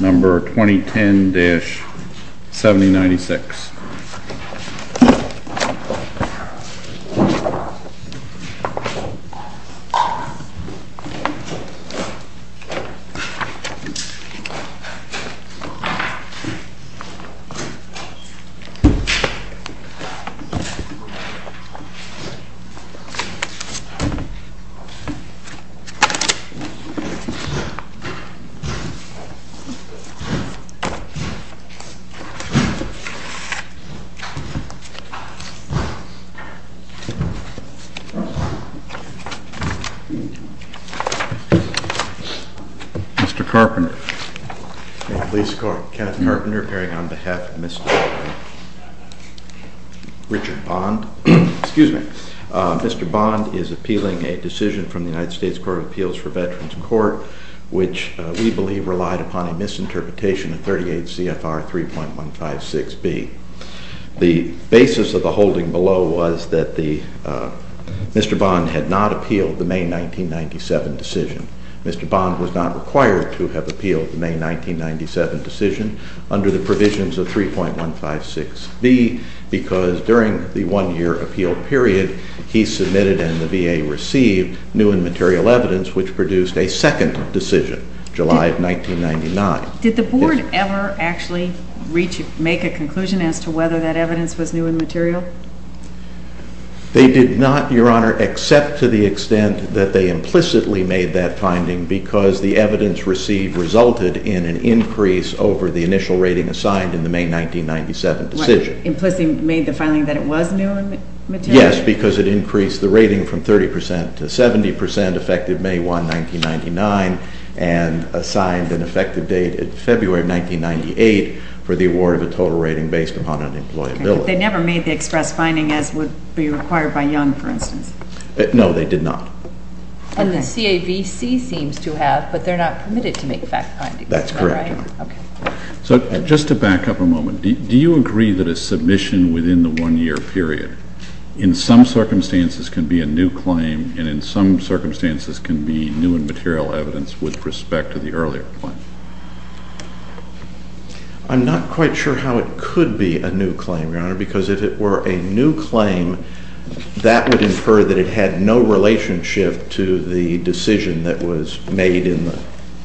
Number 2010-7096 Mr. Carpenter. At least, I'm Kath Carpenter, appearing on behalf of Mr. Richard Bond. Excuse me. Mr. Bond is appealing a decision from the United States Court of Appeals for Veterans Court, which we believe relied upon a misinterpretation of 38 CFR 3.156B. The basis of the holding below was that Mr. Bond had not appealed the May 1997 decision. Mr. Bond was not required to have appealed the May 1997 decision under the provisions of 3.156B because during the one-year appeal period, he submitted and the VA received new and material evidence, which produced a second decision, July of 1999. Did the Board ever actually make a conclusion as to whether that evidence was new and material? They did not, Your Honor, except to the extent that they implicitly made that finding because the evidence received resulted in an increase over the initial rating assigned in the May 1997 decision. They implicitly made the finding that it was new and material? Yes, because it increased the rating from 30% to 70% effective May 1, 1999 and assigned an effective date in February of 1998 for the award of a total rating based upon unemployability. They never made the express finding as would be required by Young, for instance? No, they did not. And the CAVC seems to have, but they're not permitted to make fact findings. That's correct, Your Honor. So just to back up a moment, do you agree that a submission within the one-year period in some circumstances can be a new claim and in some circumstances can be new and material evidence with respect to the earlier claim? I'm not quite sure how it could be a new claim, Your Honor, because if it were a new claim, that would infer that it had no relationship to the decision that was made in the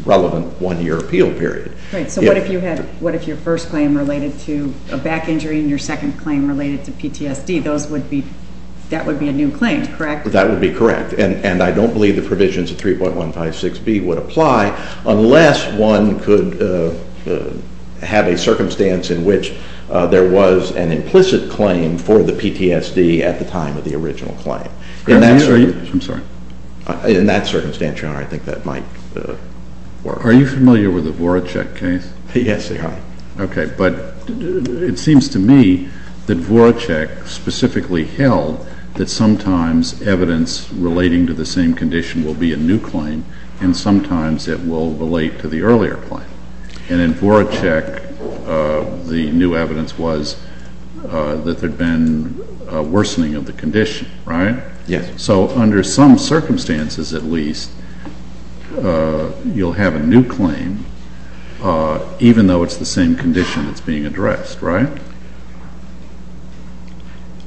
relevant one-year appeal period. So what if your first claim related to a back injury and your second claim related to PTSD? That would be a new claim, correct? That would be correct. And I don't believe the provisions of 3.156B would apply unless one could have a circumstance in which there was an implicit claim for the PTSD at the time of the original claim. In that circumstance, Your Honor, I think that might work. Are you familiar with the Voracek case? Yes, Your Honor. Okay, but it seems to me that Voracek specifically held that sometimes evidence relating to the same condition will be a new claim and sometimes it will relate to the earlier claim. And in Voracek, the new evidence was that there had been a worsening of the condition, right? Yes. So under some circumstances at least, you'll have a new claim even though it's the same condition that's being addressed, right?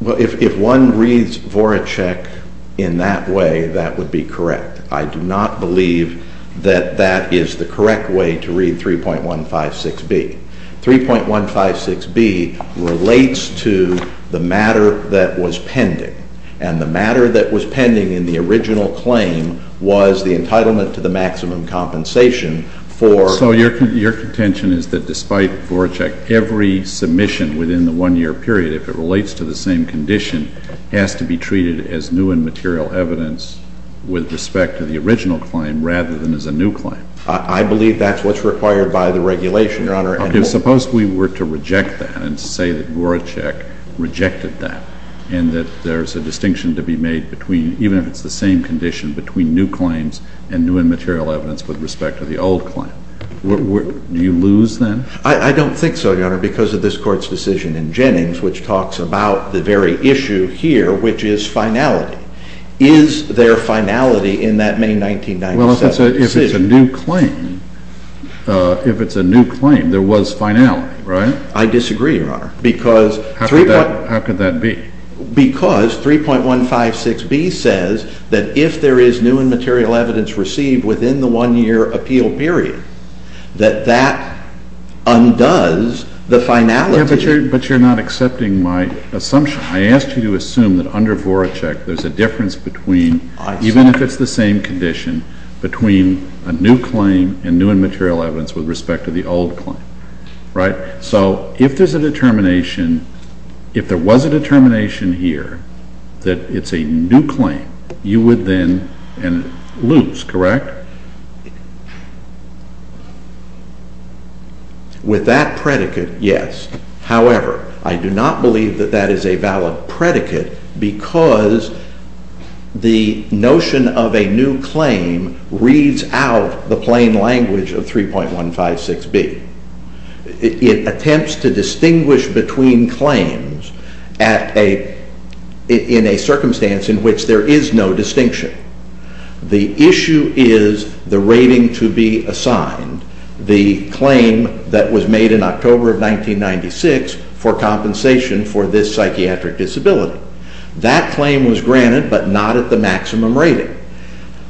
Well, if one reads Voracek in that way, that would be correct. I do not believe that that is the correct way to read 3.156B. 3.156B relates to the matter that was pending and the matter that was pending in the original claim was the entitlement to the maximum compensation for— So your contention is that despite Voracek, every submission within the one-year period, if it relates to the same condition, has to be treated as new and material evidence with respect to the original claim rather than as a new claim? I believe that's what's required by the regulation, Your Honor. Suppose we were to reject that and say that Voracek rejected that and that there's a distinction to be made between, even if it's the same condition, between new claims and new and material evidence with respect to the old claim. Do you lose then? I don't think so, Your Honor, because of this Court's decision in Jennings which talks about the very issue here, which is finality. Is there finality in that May 1997 decision? Well, if it's a new claim, if it's a new claim, there was finality, right? I disagree, Your Honor, because— How could that be? Because 3.156B says that if there is new and material evidence received within the one-year appeal period, that that undoes the finality. Yeah, but you're not accepting my assumption. I asked you to assume that under Voracek, there's a difference between, even if it's the same condition, between a new claim and new and material evidence with respect to the old claim, right? So if there's a determination, if there was a determination here that it's a new claim, you would then lose, correct? With that predicate, yes. However, I do not believe that that is a valid predicate because the notion of a new claim reads out the plain language of 3.156B. It attempts to distinguish between claims in a circumstance in which there is no distinction. The issue is the rating to be assigned, the claim that was made in October of 1996 for compensation for this psychiatric disability. That claim was granted, but not at the maximum rating.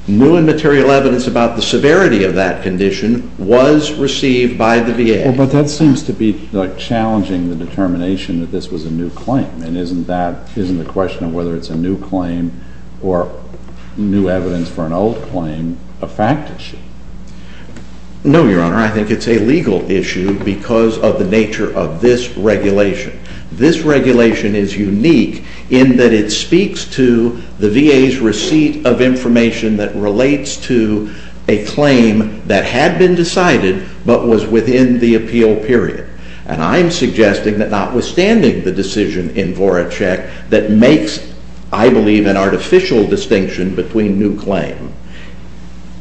New and material evidence about the severity of that condition was received by the VA. Well, but that seems to be challenging the determination that this was a new claim, and isn't the question of whether it's a new claim or new evidence for an old claim a fact issue? No, Your Honor. I think it's a legal issue because of the nature of this regulation. This regulation is unique in that it speaks to the VA's receipt of information that relates to a claim that had been decided, but was within the appeal period. And I'm suggesting that notwithstanding the decision in Voracek that makes, I believe, an artificial distinction between new claims,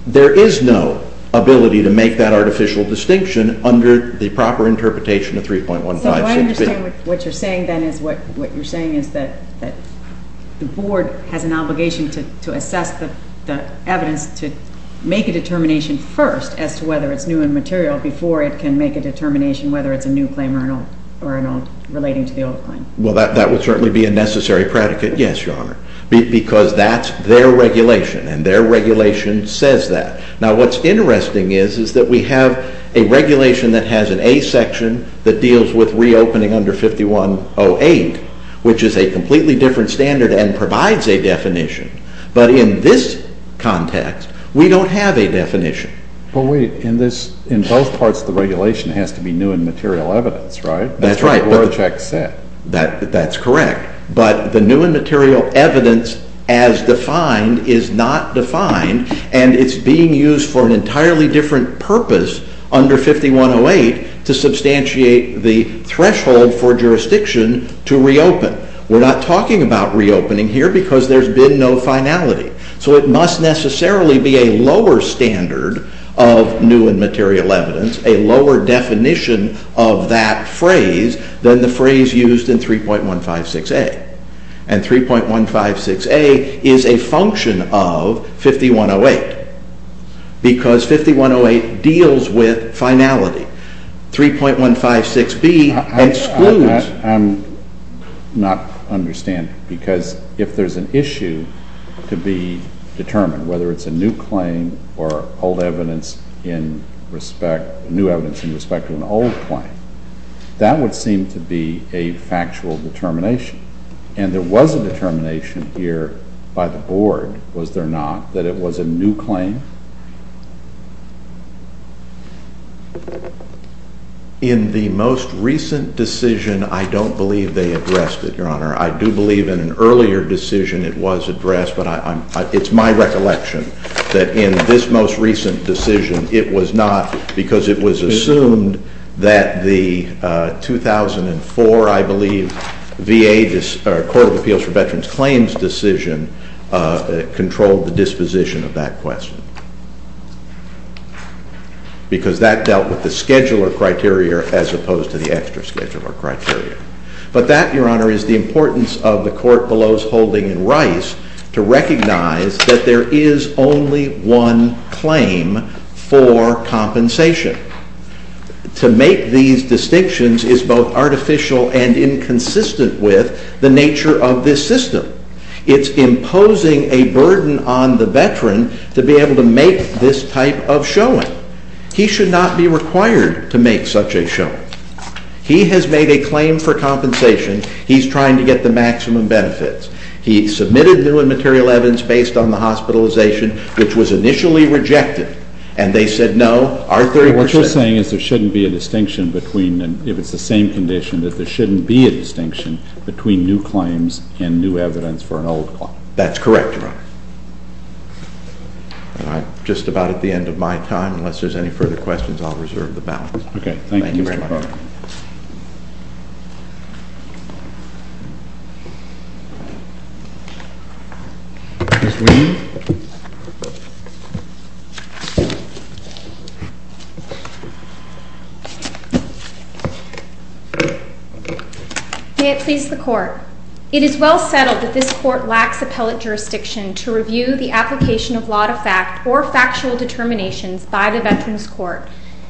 there is no ability to make that artificial distinction under the proper interpretation of 3.156B. So I understand what you're saying then is what you're saying is that the Board has an obligation to assess the evidence to make a determination first as to whether it's new and material before it can make a determination whether it's a new claim or an old, relating to the old claim. Well, that would certainly be a necessary predicate, yes, Your Honor. Because that's their regulation, and their regulation says that. Now, what's interesting is that we have a regulation that has an A section that deals with reopening under 5108, which is a completely different standard and provides a definition. But in this context, we don't have a definition. But wait, in this, in both parts of the regulation it has to be new and material evidence, right? That's right. That's what Voracek said. That's correct. But the new and material evidence as defined is not defined, and it's being used for an entirely different purpose under 5108 to substantiate the threshold for jurisdiction to reopen. We're not talking about reopening here because there's been no finality. So it must necessarily be a lower standard of new and material evidence, a lower definition of that phrase than the phrase used in 3.156A. And 3.156A is a function of 5108 because 5108 deals with finality. 3.156B excludes... I'm not understanding. Because if there's an issue to be determined, whether it's a new claim or old evidence in respect, new evidence in respect to an old claim, that would seem to be a factual determination. And there was a determination here by the board, was there not, that it was a new claim? In the most recent decision, I don't believe they addressed it, Your Honor. I do believe in an earlier decision it was addressed, but it's my recollection that in this most recent decision, it was not because it was assumed that the 2004, I believe, VA Court of Appeals for Veterans Claims decision controlled the disposition of that question. Because that dealt with the scheduler criteria as opposed to the extra scheduler criteria. But that, Your Honor, is the importance of the court below's holding in Rice to recognize that there is only one claim for compensation. To make these distinctions is both artificial and inconsistent with the nature of this system. It's imposing a burden on the veteran to be able to make this type of showing. He should not be required to make such a showing. He has made a claim for compensation. He's trying to get the maximum benefits. He submitted new and material evidence based on the hospitalization, which was initially rejected. And they said, no, our 30 percent... What you're saying is there shouldn't be a distinction between, if it's the same condition, that there shouldn't be a distinction between new claims and new evidence for an old one. That's correct, Your Honor. All right. Just about at the end of my time, unless there's any further questions, I'll reserve the balance. Okay. Thank you, Mr. Clark. Thank you very much. Ms. Weedon? May it please the Court. It is well settled that this Court lacks appellate jurisdiction to review the application of law-to-fact or factual determinations by the Veterans Court.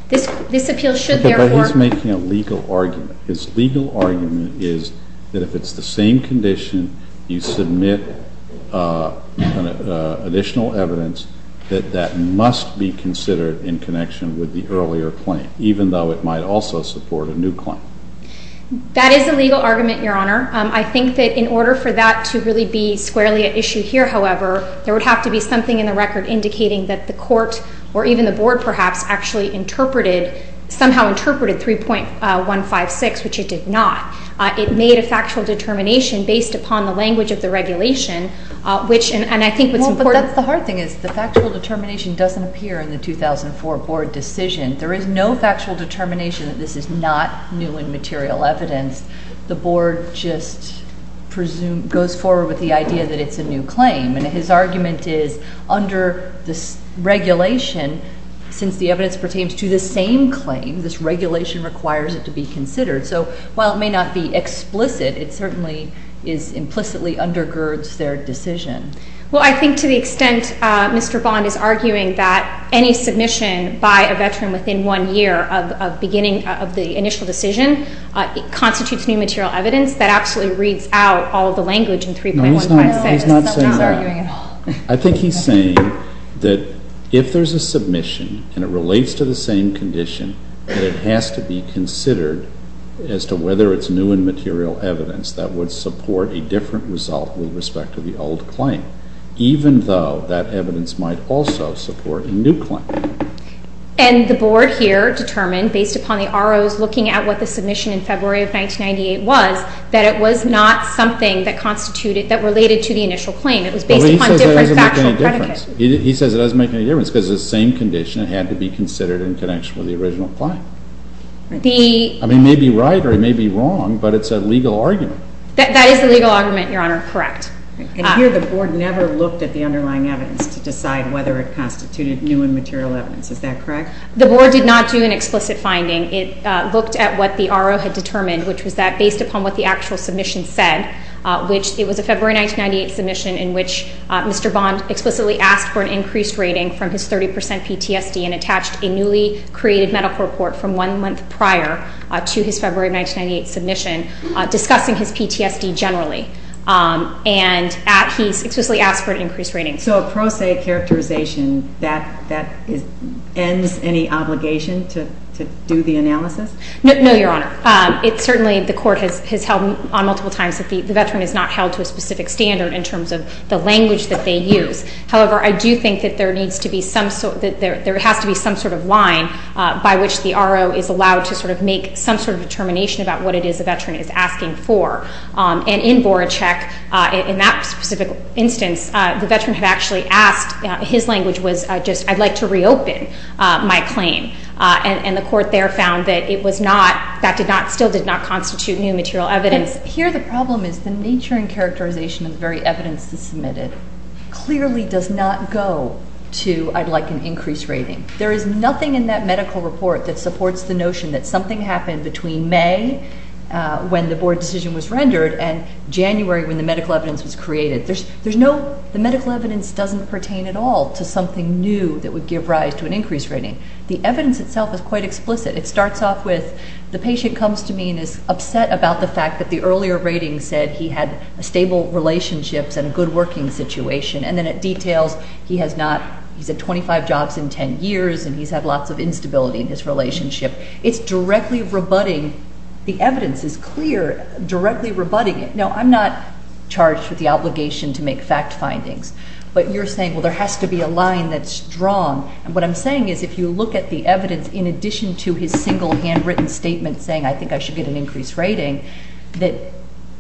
This appeal should, therefore... Okay, but he's making a legal argument. His legal argument is that if it's the same condition, you submit additional evidence that that must be considered in connection with the earlier claim, even though it might also support a new claim. That is a legal argument, Your Honor. I think that in order for that to really be squarely an issue here, however, there would have to be something in the record indicating that the Court or even the Board, perhaps, actually interpreted, somehow interpreted 3.156, which it did not. It made a factual determination based upon the language of the regulation, which, and I think what's important... Well, but that's the hard thing is the factual determination doesn't appear in the 2004 Board decision. There is no factual determination that this is not new and material evidence. The Board just goes forward with the idea that it's a new claim. And his argument is, under this regulation, since the evidence pertains to this same claim, this regulation requires it to be considered. So, while it may not be explicit, it certainly implicitly undergirds their decision. Well, I think to the extent Mr. Bond is arguing that any submission by a Veteran within one year of beginning of the initial decision constitutes new material evidence, that actually reads out all of the language in 3.156. No, he's not saying that. I think he's saying that if there's a submission and it relates to the same condition, that it has to be considered as to whether it's new and material evidence that would support a different result with respect to the old claim, even though that evidence might also support a new claim. And the Board here determined, based upon the RO's looking at what the submission in February of 1998 was, that it was not something that constituted, that related to the initial claim. It was based upon a different factual predicate. He says it doesn't make any difference because it's the same condition. It had to be considered in connection with the original claim. I mean, it may be right or it may be wrong, but it's a legal argument. That is a legal argument, Your Honor. Correct. And here the Board never looked at the underlying evidence to decide whether it constituted new and material evidence. Is that correct? The Board did not do an explicit finding. It looked at what the RO had determined, which was that based upon what the actual submission said, which it was a February 1998 submission in which Mr. Bond explicitly asked for an increased rating from his 30% PTSD and attached a newly created medical report from one month prior to his February 1998 submission discussing his PTSD generally. And he explicitly asked for I'd like to reopen my claim. And the court there found that it was not that still did not constitute new and material evidence. Here the problem is the nature and characterization of the very evidence submitted clearly does not go to I'd like an increased rating. There is nothing in that medical report that supports the notion that something happened between May when the Board decision was rendered and January when the medical evidence was created. There's no the medical evidence doesn't pertain at all to something new that would give rise to an increased rating. The evidence itself is quite explicit. It starts off with the patient comes to me and is upset about the fact that the earlier rating said he had stable relationships and a good working situation. And then it details he has not, he's had 25 jobs in 10 years and he's had lots of instability in his relationship. It's directly rebutting the evidence is clear, directly rebutting it. Now I'm not with the obligation to make fact findings but you're saying well there has to be a line that's strong and what I'm saying is if you look at the evidence in addition to his single handwritten statement saying I think I should get an increased rating that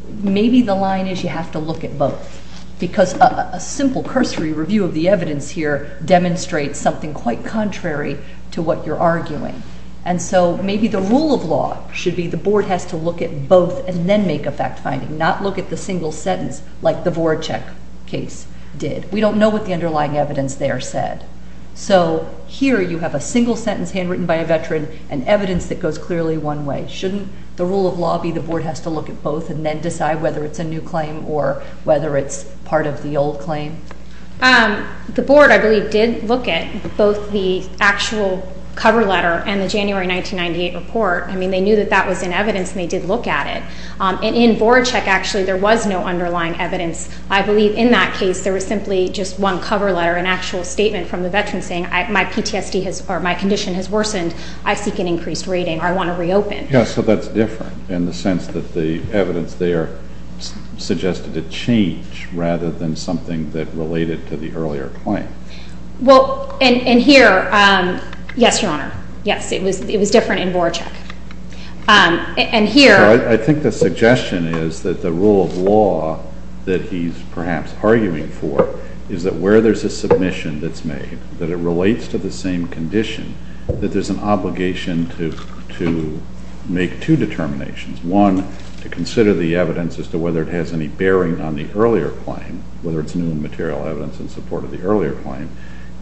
maybe the line is you have to look at both because a simple cursory review of the evidence here demonstrates something quite contrary to what you're arguing. And so maybe the rule of law should be the Board has to look at both and then make a fact finding, not look at the single sentence like the Voracek case did. We don't know what the underlying evidence there said. So here you have a single sentence handwritten by a Veteran and evidence that goes clearly one way. Shouldn't the rule of law be the Board has to look at both and then decide whether it's a new claim or whether it's part of the old claim? The Board I believe did look at both the actual cover letter and the January 1998 report. I mean they knew that that was in evidence and they did look at it. And in Voracek actually there was no underlying evidence. I believe in that case there was simply just one cover letter, an actual statement from the Veteran saying my PTSD has or my condition has worsened. I seek an increased rating or I want to reopen. Yes, so that's different in the sense that the evidence there suggested a change rather than something that related to the earlier claim. Well and here, yes Your Honor, yes it was different in here. I think the suggestion is that the rule of law that he's perhaps arguing for is that where there's a submission that's made, that it relates to the same condition, that there's an obligation to make two determinations. One to consider the evidence as to whether it has any bearing on the earlier claim whether it's new material evidence in support of the earlier claim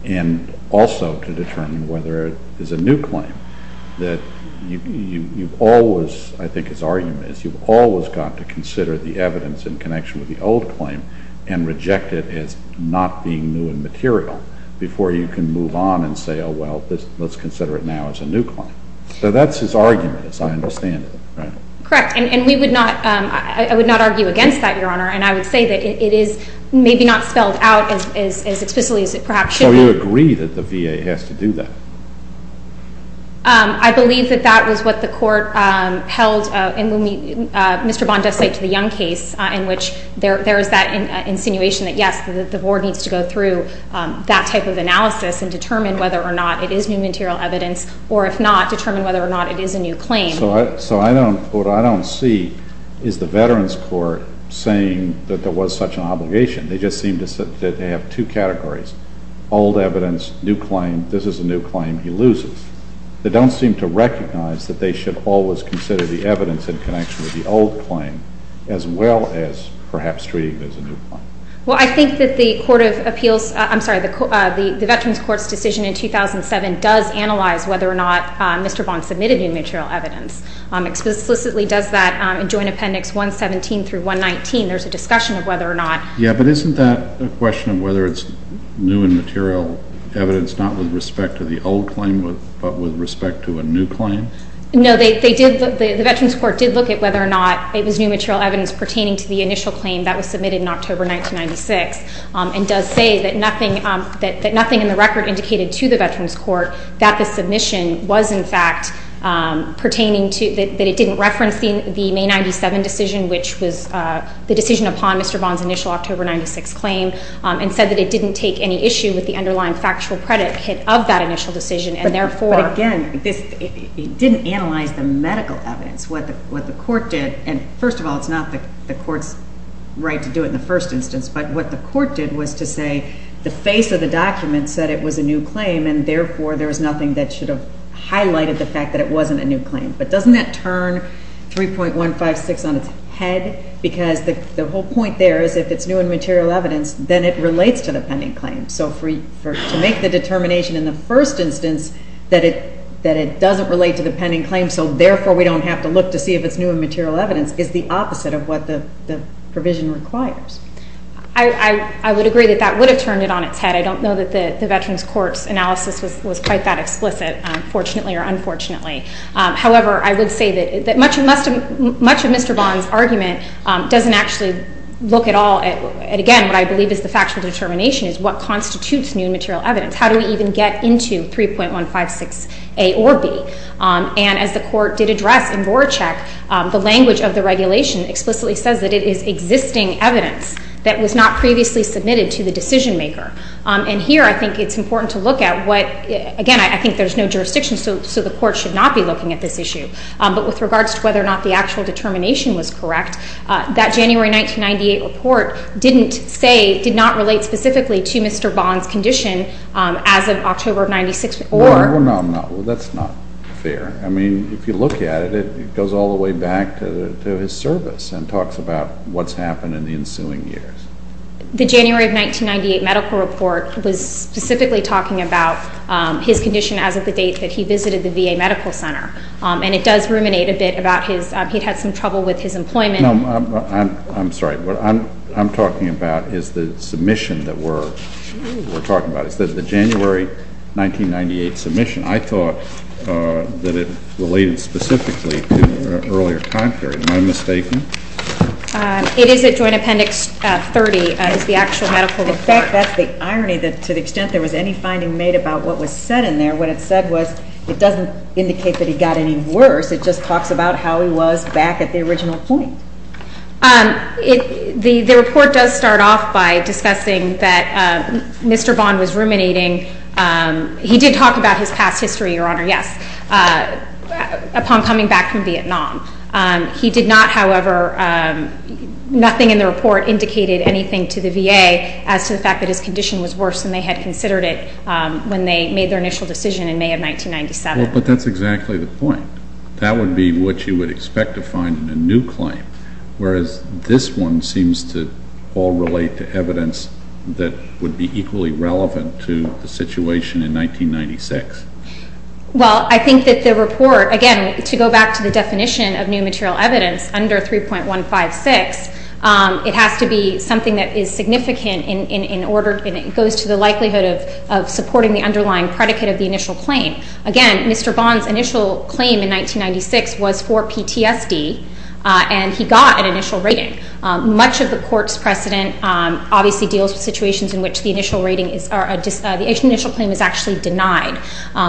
and also to determine whether it is a new claim. That you've always, I think his argument is, you've always got to consider the evidence in connection with the old claim and reject it as not being new and material before you can move on and say oh well let's consider it now as a new claim. So that's his argument as I understand it. Correct and we would not, I would not argue against that Your Honor and I would say that it is maybe not spelled out as explicitly as it perhaps should be. So you agree that the VA has to do that? I believe that that was what the court held in when Mr. Bond does say to the Young case in which there is that insinuation that yes the Board needs to go through that type of analysis and determine whether or not it is new material evidence or if not determine whether or not it is a new claim. So I don't, what I don't see is the Veterans Court saying that there was such an obligation. They just seem to have two categories. Old evidence, new claim, this is a new claim, he loses. They don't seem to recognize that they should always consider the evidence in connection with the old claim as well as perhaps treating it as a new claim. Well I think that the Court of Appeals, I'm sorry, the Veterans Court's decision in 2007 does analyze whether or not Mr. Bond submitted new material evidence. Explicitly does that in Joint Appendix 117 through 119 there's a discussion of whether or not. Yeah but isn't that a question of whether it's new and material evidence not with respect to the old claim but with respect to a new claim? No they did, the Veterans Court did look at whether or not it was new material evidence pertaining to the initial claim that was submitted in October 1996 and does say that nothing in the record indicated to the Veterans Court that the submission was in fact pertaining to, that it didn't reference the May 97 decision which was the decision upon Mr. Bond's initial October 1996 claim and said that it didn't take any issue with the underlying factual predicate of that initial decision and therefore But again, it didn't analyze the medical evidence. What the Court did, and first of all it's not the Court's right to do it in the first instance, but what the Court did was to say the face of the document said it was a new claim and therefore there's nothing that should have highlighted the fact that it wasn't a new claim. But doesn't that turn 3.156 on its head because the whole point there is if it's new and material evidence, then it relates to the pending claim. So to make the determination in the first instance that it doesn't relate to the pending claim so therefore we don't have to look to see if it's new and material evidence is the opposite of what the provision requires. I would agree that that would have turned it on its head. I don't know that the Veterans Court's analysis was quite that explicit, fortunately or unfortunately. However, I would say that much of Mr. Bond's argument doesn't actually look at all at, again, what I believe is the factual determination is what constitutes new and material evidence. How do we even get into 3.156A or B? And as the Court did address in Voracek, the language of the regulation explicitly says that it is existing evidence that was not previously submitted to the decision maker. And here I think it's important to look at what, again, I think there's no jurisdiction so the Court should not be looking at this issue. But with regards to whether or not the actual determination was correct, that January 1998 report didn't say, did not relate specifically to Mr. Bond's condition as of October of 96 or... No, no, no. That's not fair. I mean, if you look at it, it goes all the way back to his service and talks about what's happened in the ensuing years. The January of 1998 medical report was specifically talking about his condition as of the date that he visited the VA Medical Center. And it does ruminate a bit about his he'd had some trouble with his employment. I'm sorry. What I'm talking about is the submission that we're talking about. It's the January 1998 submission. I thought that it related specifically to an earlier time period. Am I mistaken? It is at Joint Appendix 30 is the actual medical report. In fact, that's the irony that to the extent there was any finding made about what was said in there, what it said was it doesn't indicate that he got any worse. It just talks about how he was back at the original point. The report does start off by discussing that Mr. Bond was ruminating. He did talk about his past history, Your Honor, yes, upon coming back from Vietnam. He did not, however, nothing in the report indicated anything to the VA as to the fact that his condition was not as bad as they had considered it when they made their initial decision in May of 1997. But that's exactly the point. That would be what you would expect to find in a new claim, whereas this one seems to all relate to evidence that would be equally relevant to the situation in 1996. Well, I think that the report, again, to go back to the definition of new material evidence under 3.156, it has to be something that is significant in order and it goes to the likelihood of supporting the underlying predicate of the initial claim. Again, Mr. Bond's initial claim in 1996 was for PTSD, and he got an initial rating. Much of the Court's precedent obviously deals with situations in which the initial rating is or the initial claim is actually denied,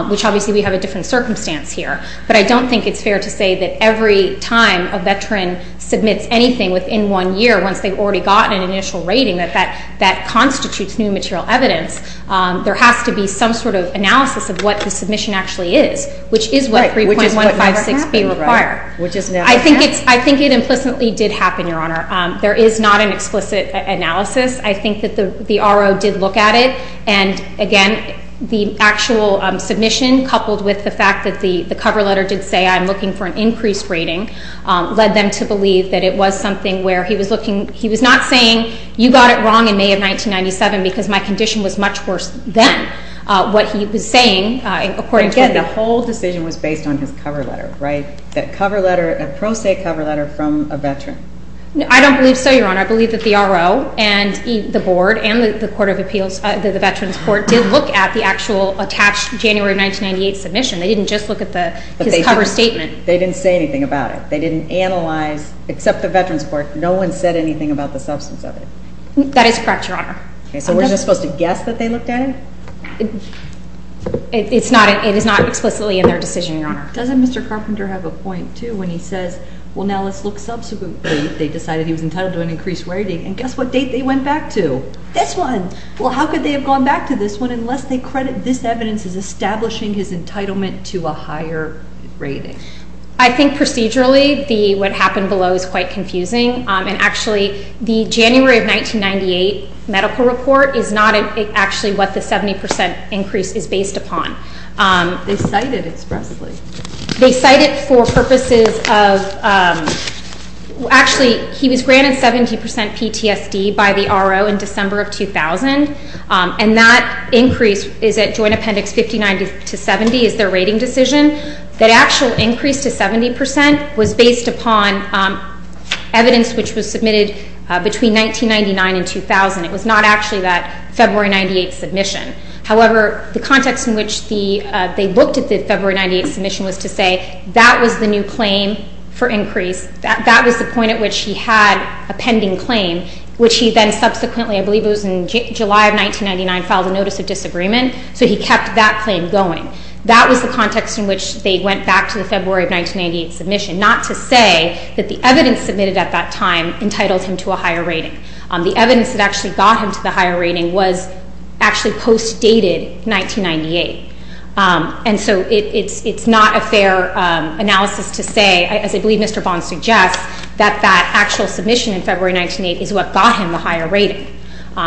which obviously we have a different circumstance here. But I don't think it's fair to say that every time a veteran submits anything within one year, once they've already gotten an initial rating, that that constitutes new material evidence. There has to be some sort of analysis of what the submission actually is, which is what 3.156B required. Which is what never happened, right? I think it implicitly did happen, Your Honor. There is not an explicit analysis. I think that the RO did look at it and, again, the actual submission coupled with the fact that the cover letter did say, I'm looking for an increased rating, led them to believe that it was something where he was looking, he was not saying, you got it wrong in May of 1997 because my condition was much worse than what he was saying according to him. Again, the whole decision was based on his cover letter, right? That cover letter, a pro se cover letter from a veteran. I don't believe so, Your Honor. I believe that the RO and the Board and the Court of Appeals, the Veterans Court, did look at the actual attached January 1998 submission. They didn't just look at his cover statement. They didn't say anything about it. They didn't analyze, except the Veterans Court, no one said anything about the substance of it. That is correct, Your Honor. So we're just supposed to guess that they looked at it? It is not explicitly in their decision, Your Honor. Doesn't Mr. Carpenter have a point, too, when he says, well, now let's look subsequently, they decided he was entitled to an increased rating, and guess what date they went back to? This one! Well, how could they have gone back to this one unless they credit this evidence as establishing his rating? I think procedurally what happened below is quite confusing, and actually, the January of 1998 medical report is not actually what the 70% increase is based upon. They cite it expressly. They cite it for purposes of, actually, he was granted 70% PTSD by the RO in December of 2000, and that increase is at Joint Appendix 59 to 70 is their rating decision. That actual increase to 70% was based upon evidence which was submitted between 1999 and 2000. It was not actually that February 98 submission. However, the context in which they looked at the February 98 submission was to say that was the new claim for increase, that was the point at which he had a pending claim, which he then subsequently, I believe it was in July of 1999, filed a notice of disagreement, so he kept that claim going. That was the context in which they went back to the February of 1998 submission, not to say that the evidence submitted at that time entitled him to a higher rating. The evidence that actually got him to the higher rating was actually post dated 1998, and so it's not a fair analysis to say, as I believe Mr. Bond suggests, that that actual submission in February 1998 is what got him the higher rating.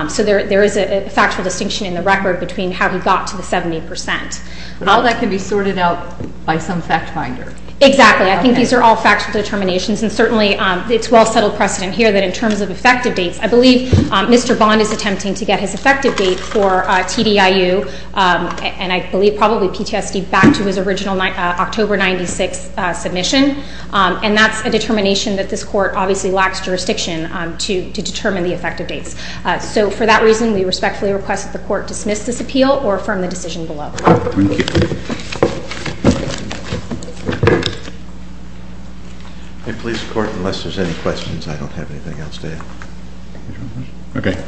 So there is a factual distinction in the record between how he got to the 70%. But all that can be sorted out by some fact finder. Exactly. I think these are all factual determinations, and certainly it's well settled precedent here that in terms of effective dates, I believe Mr. Bond is attempting to get his effective date for TDIU and I believe probably PTSD back to his original October 96 submission, and that's a determination that this Court obviously lacks jurisdiction to determine the effective dates. So for that reason, we respectfully request that the Court dismiss this appeal or affirm the decision below. Thank you. Police Court, unless there's any questions, I don't have anything else to add. Okay. Thank you. Case is submitted.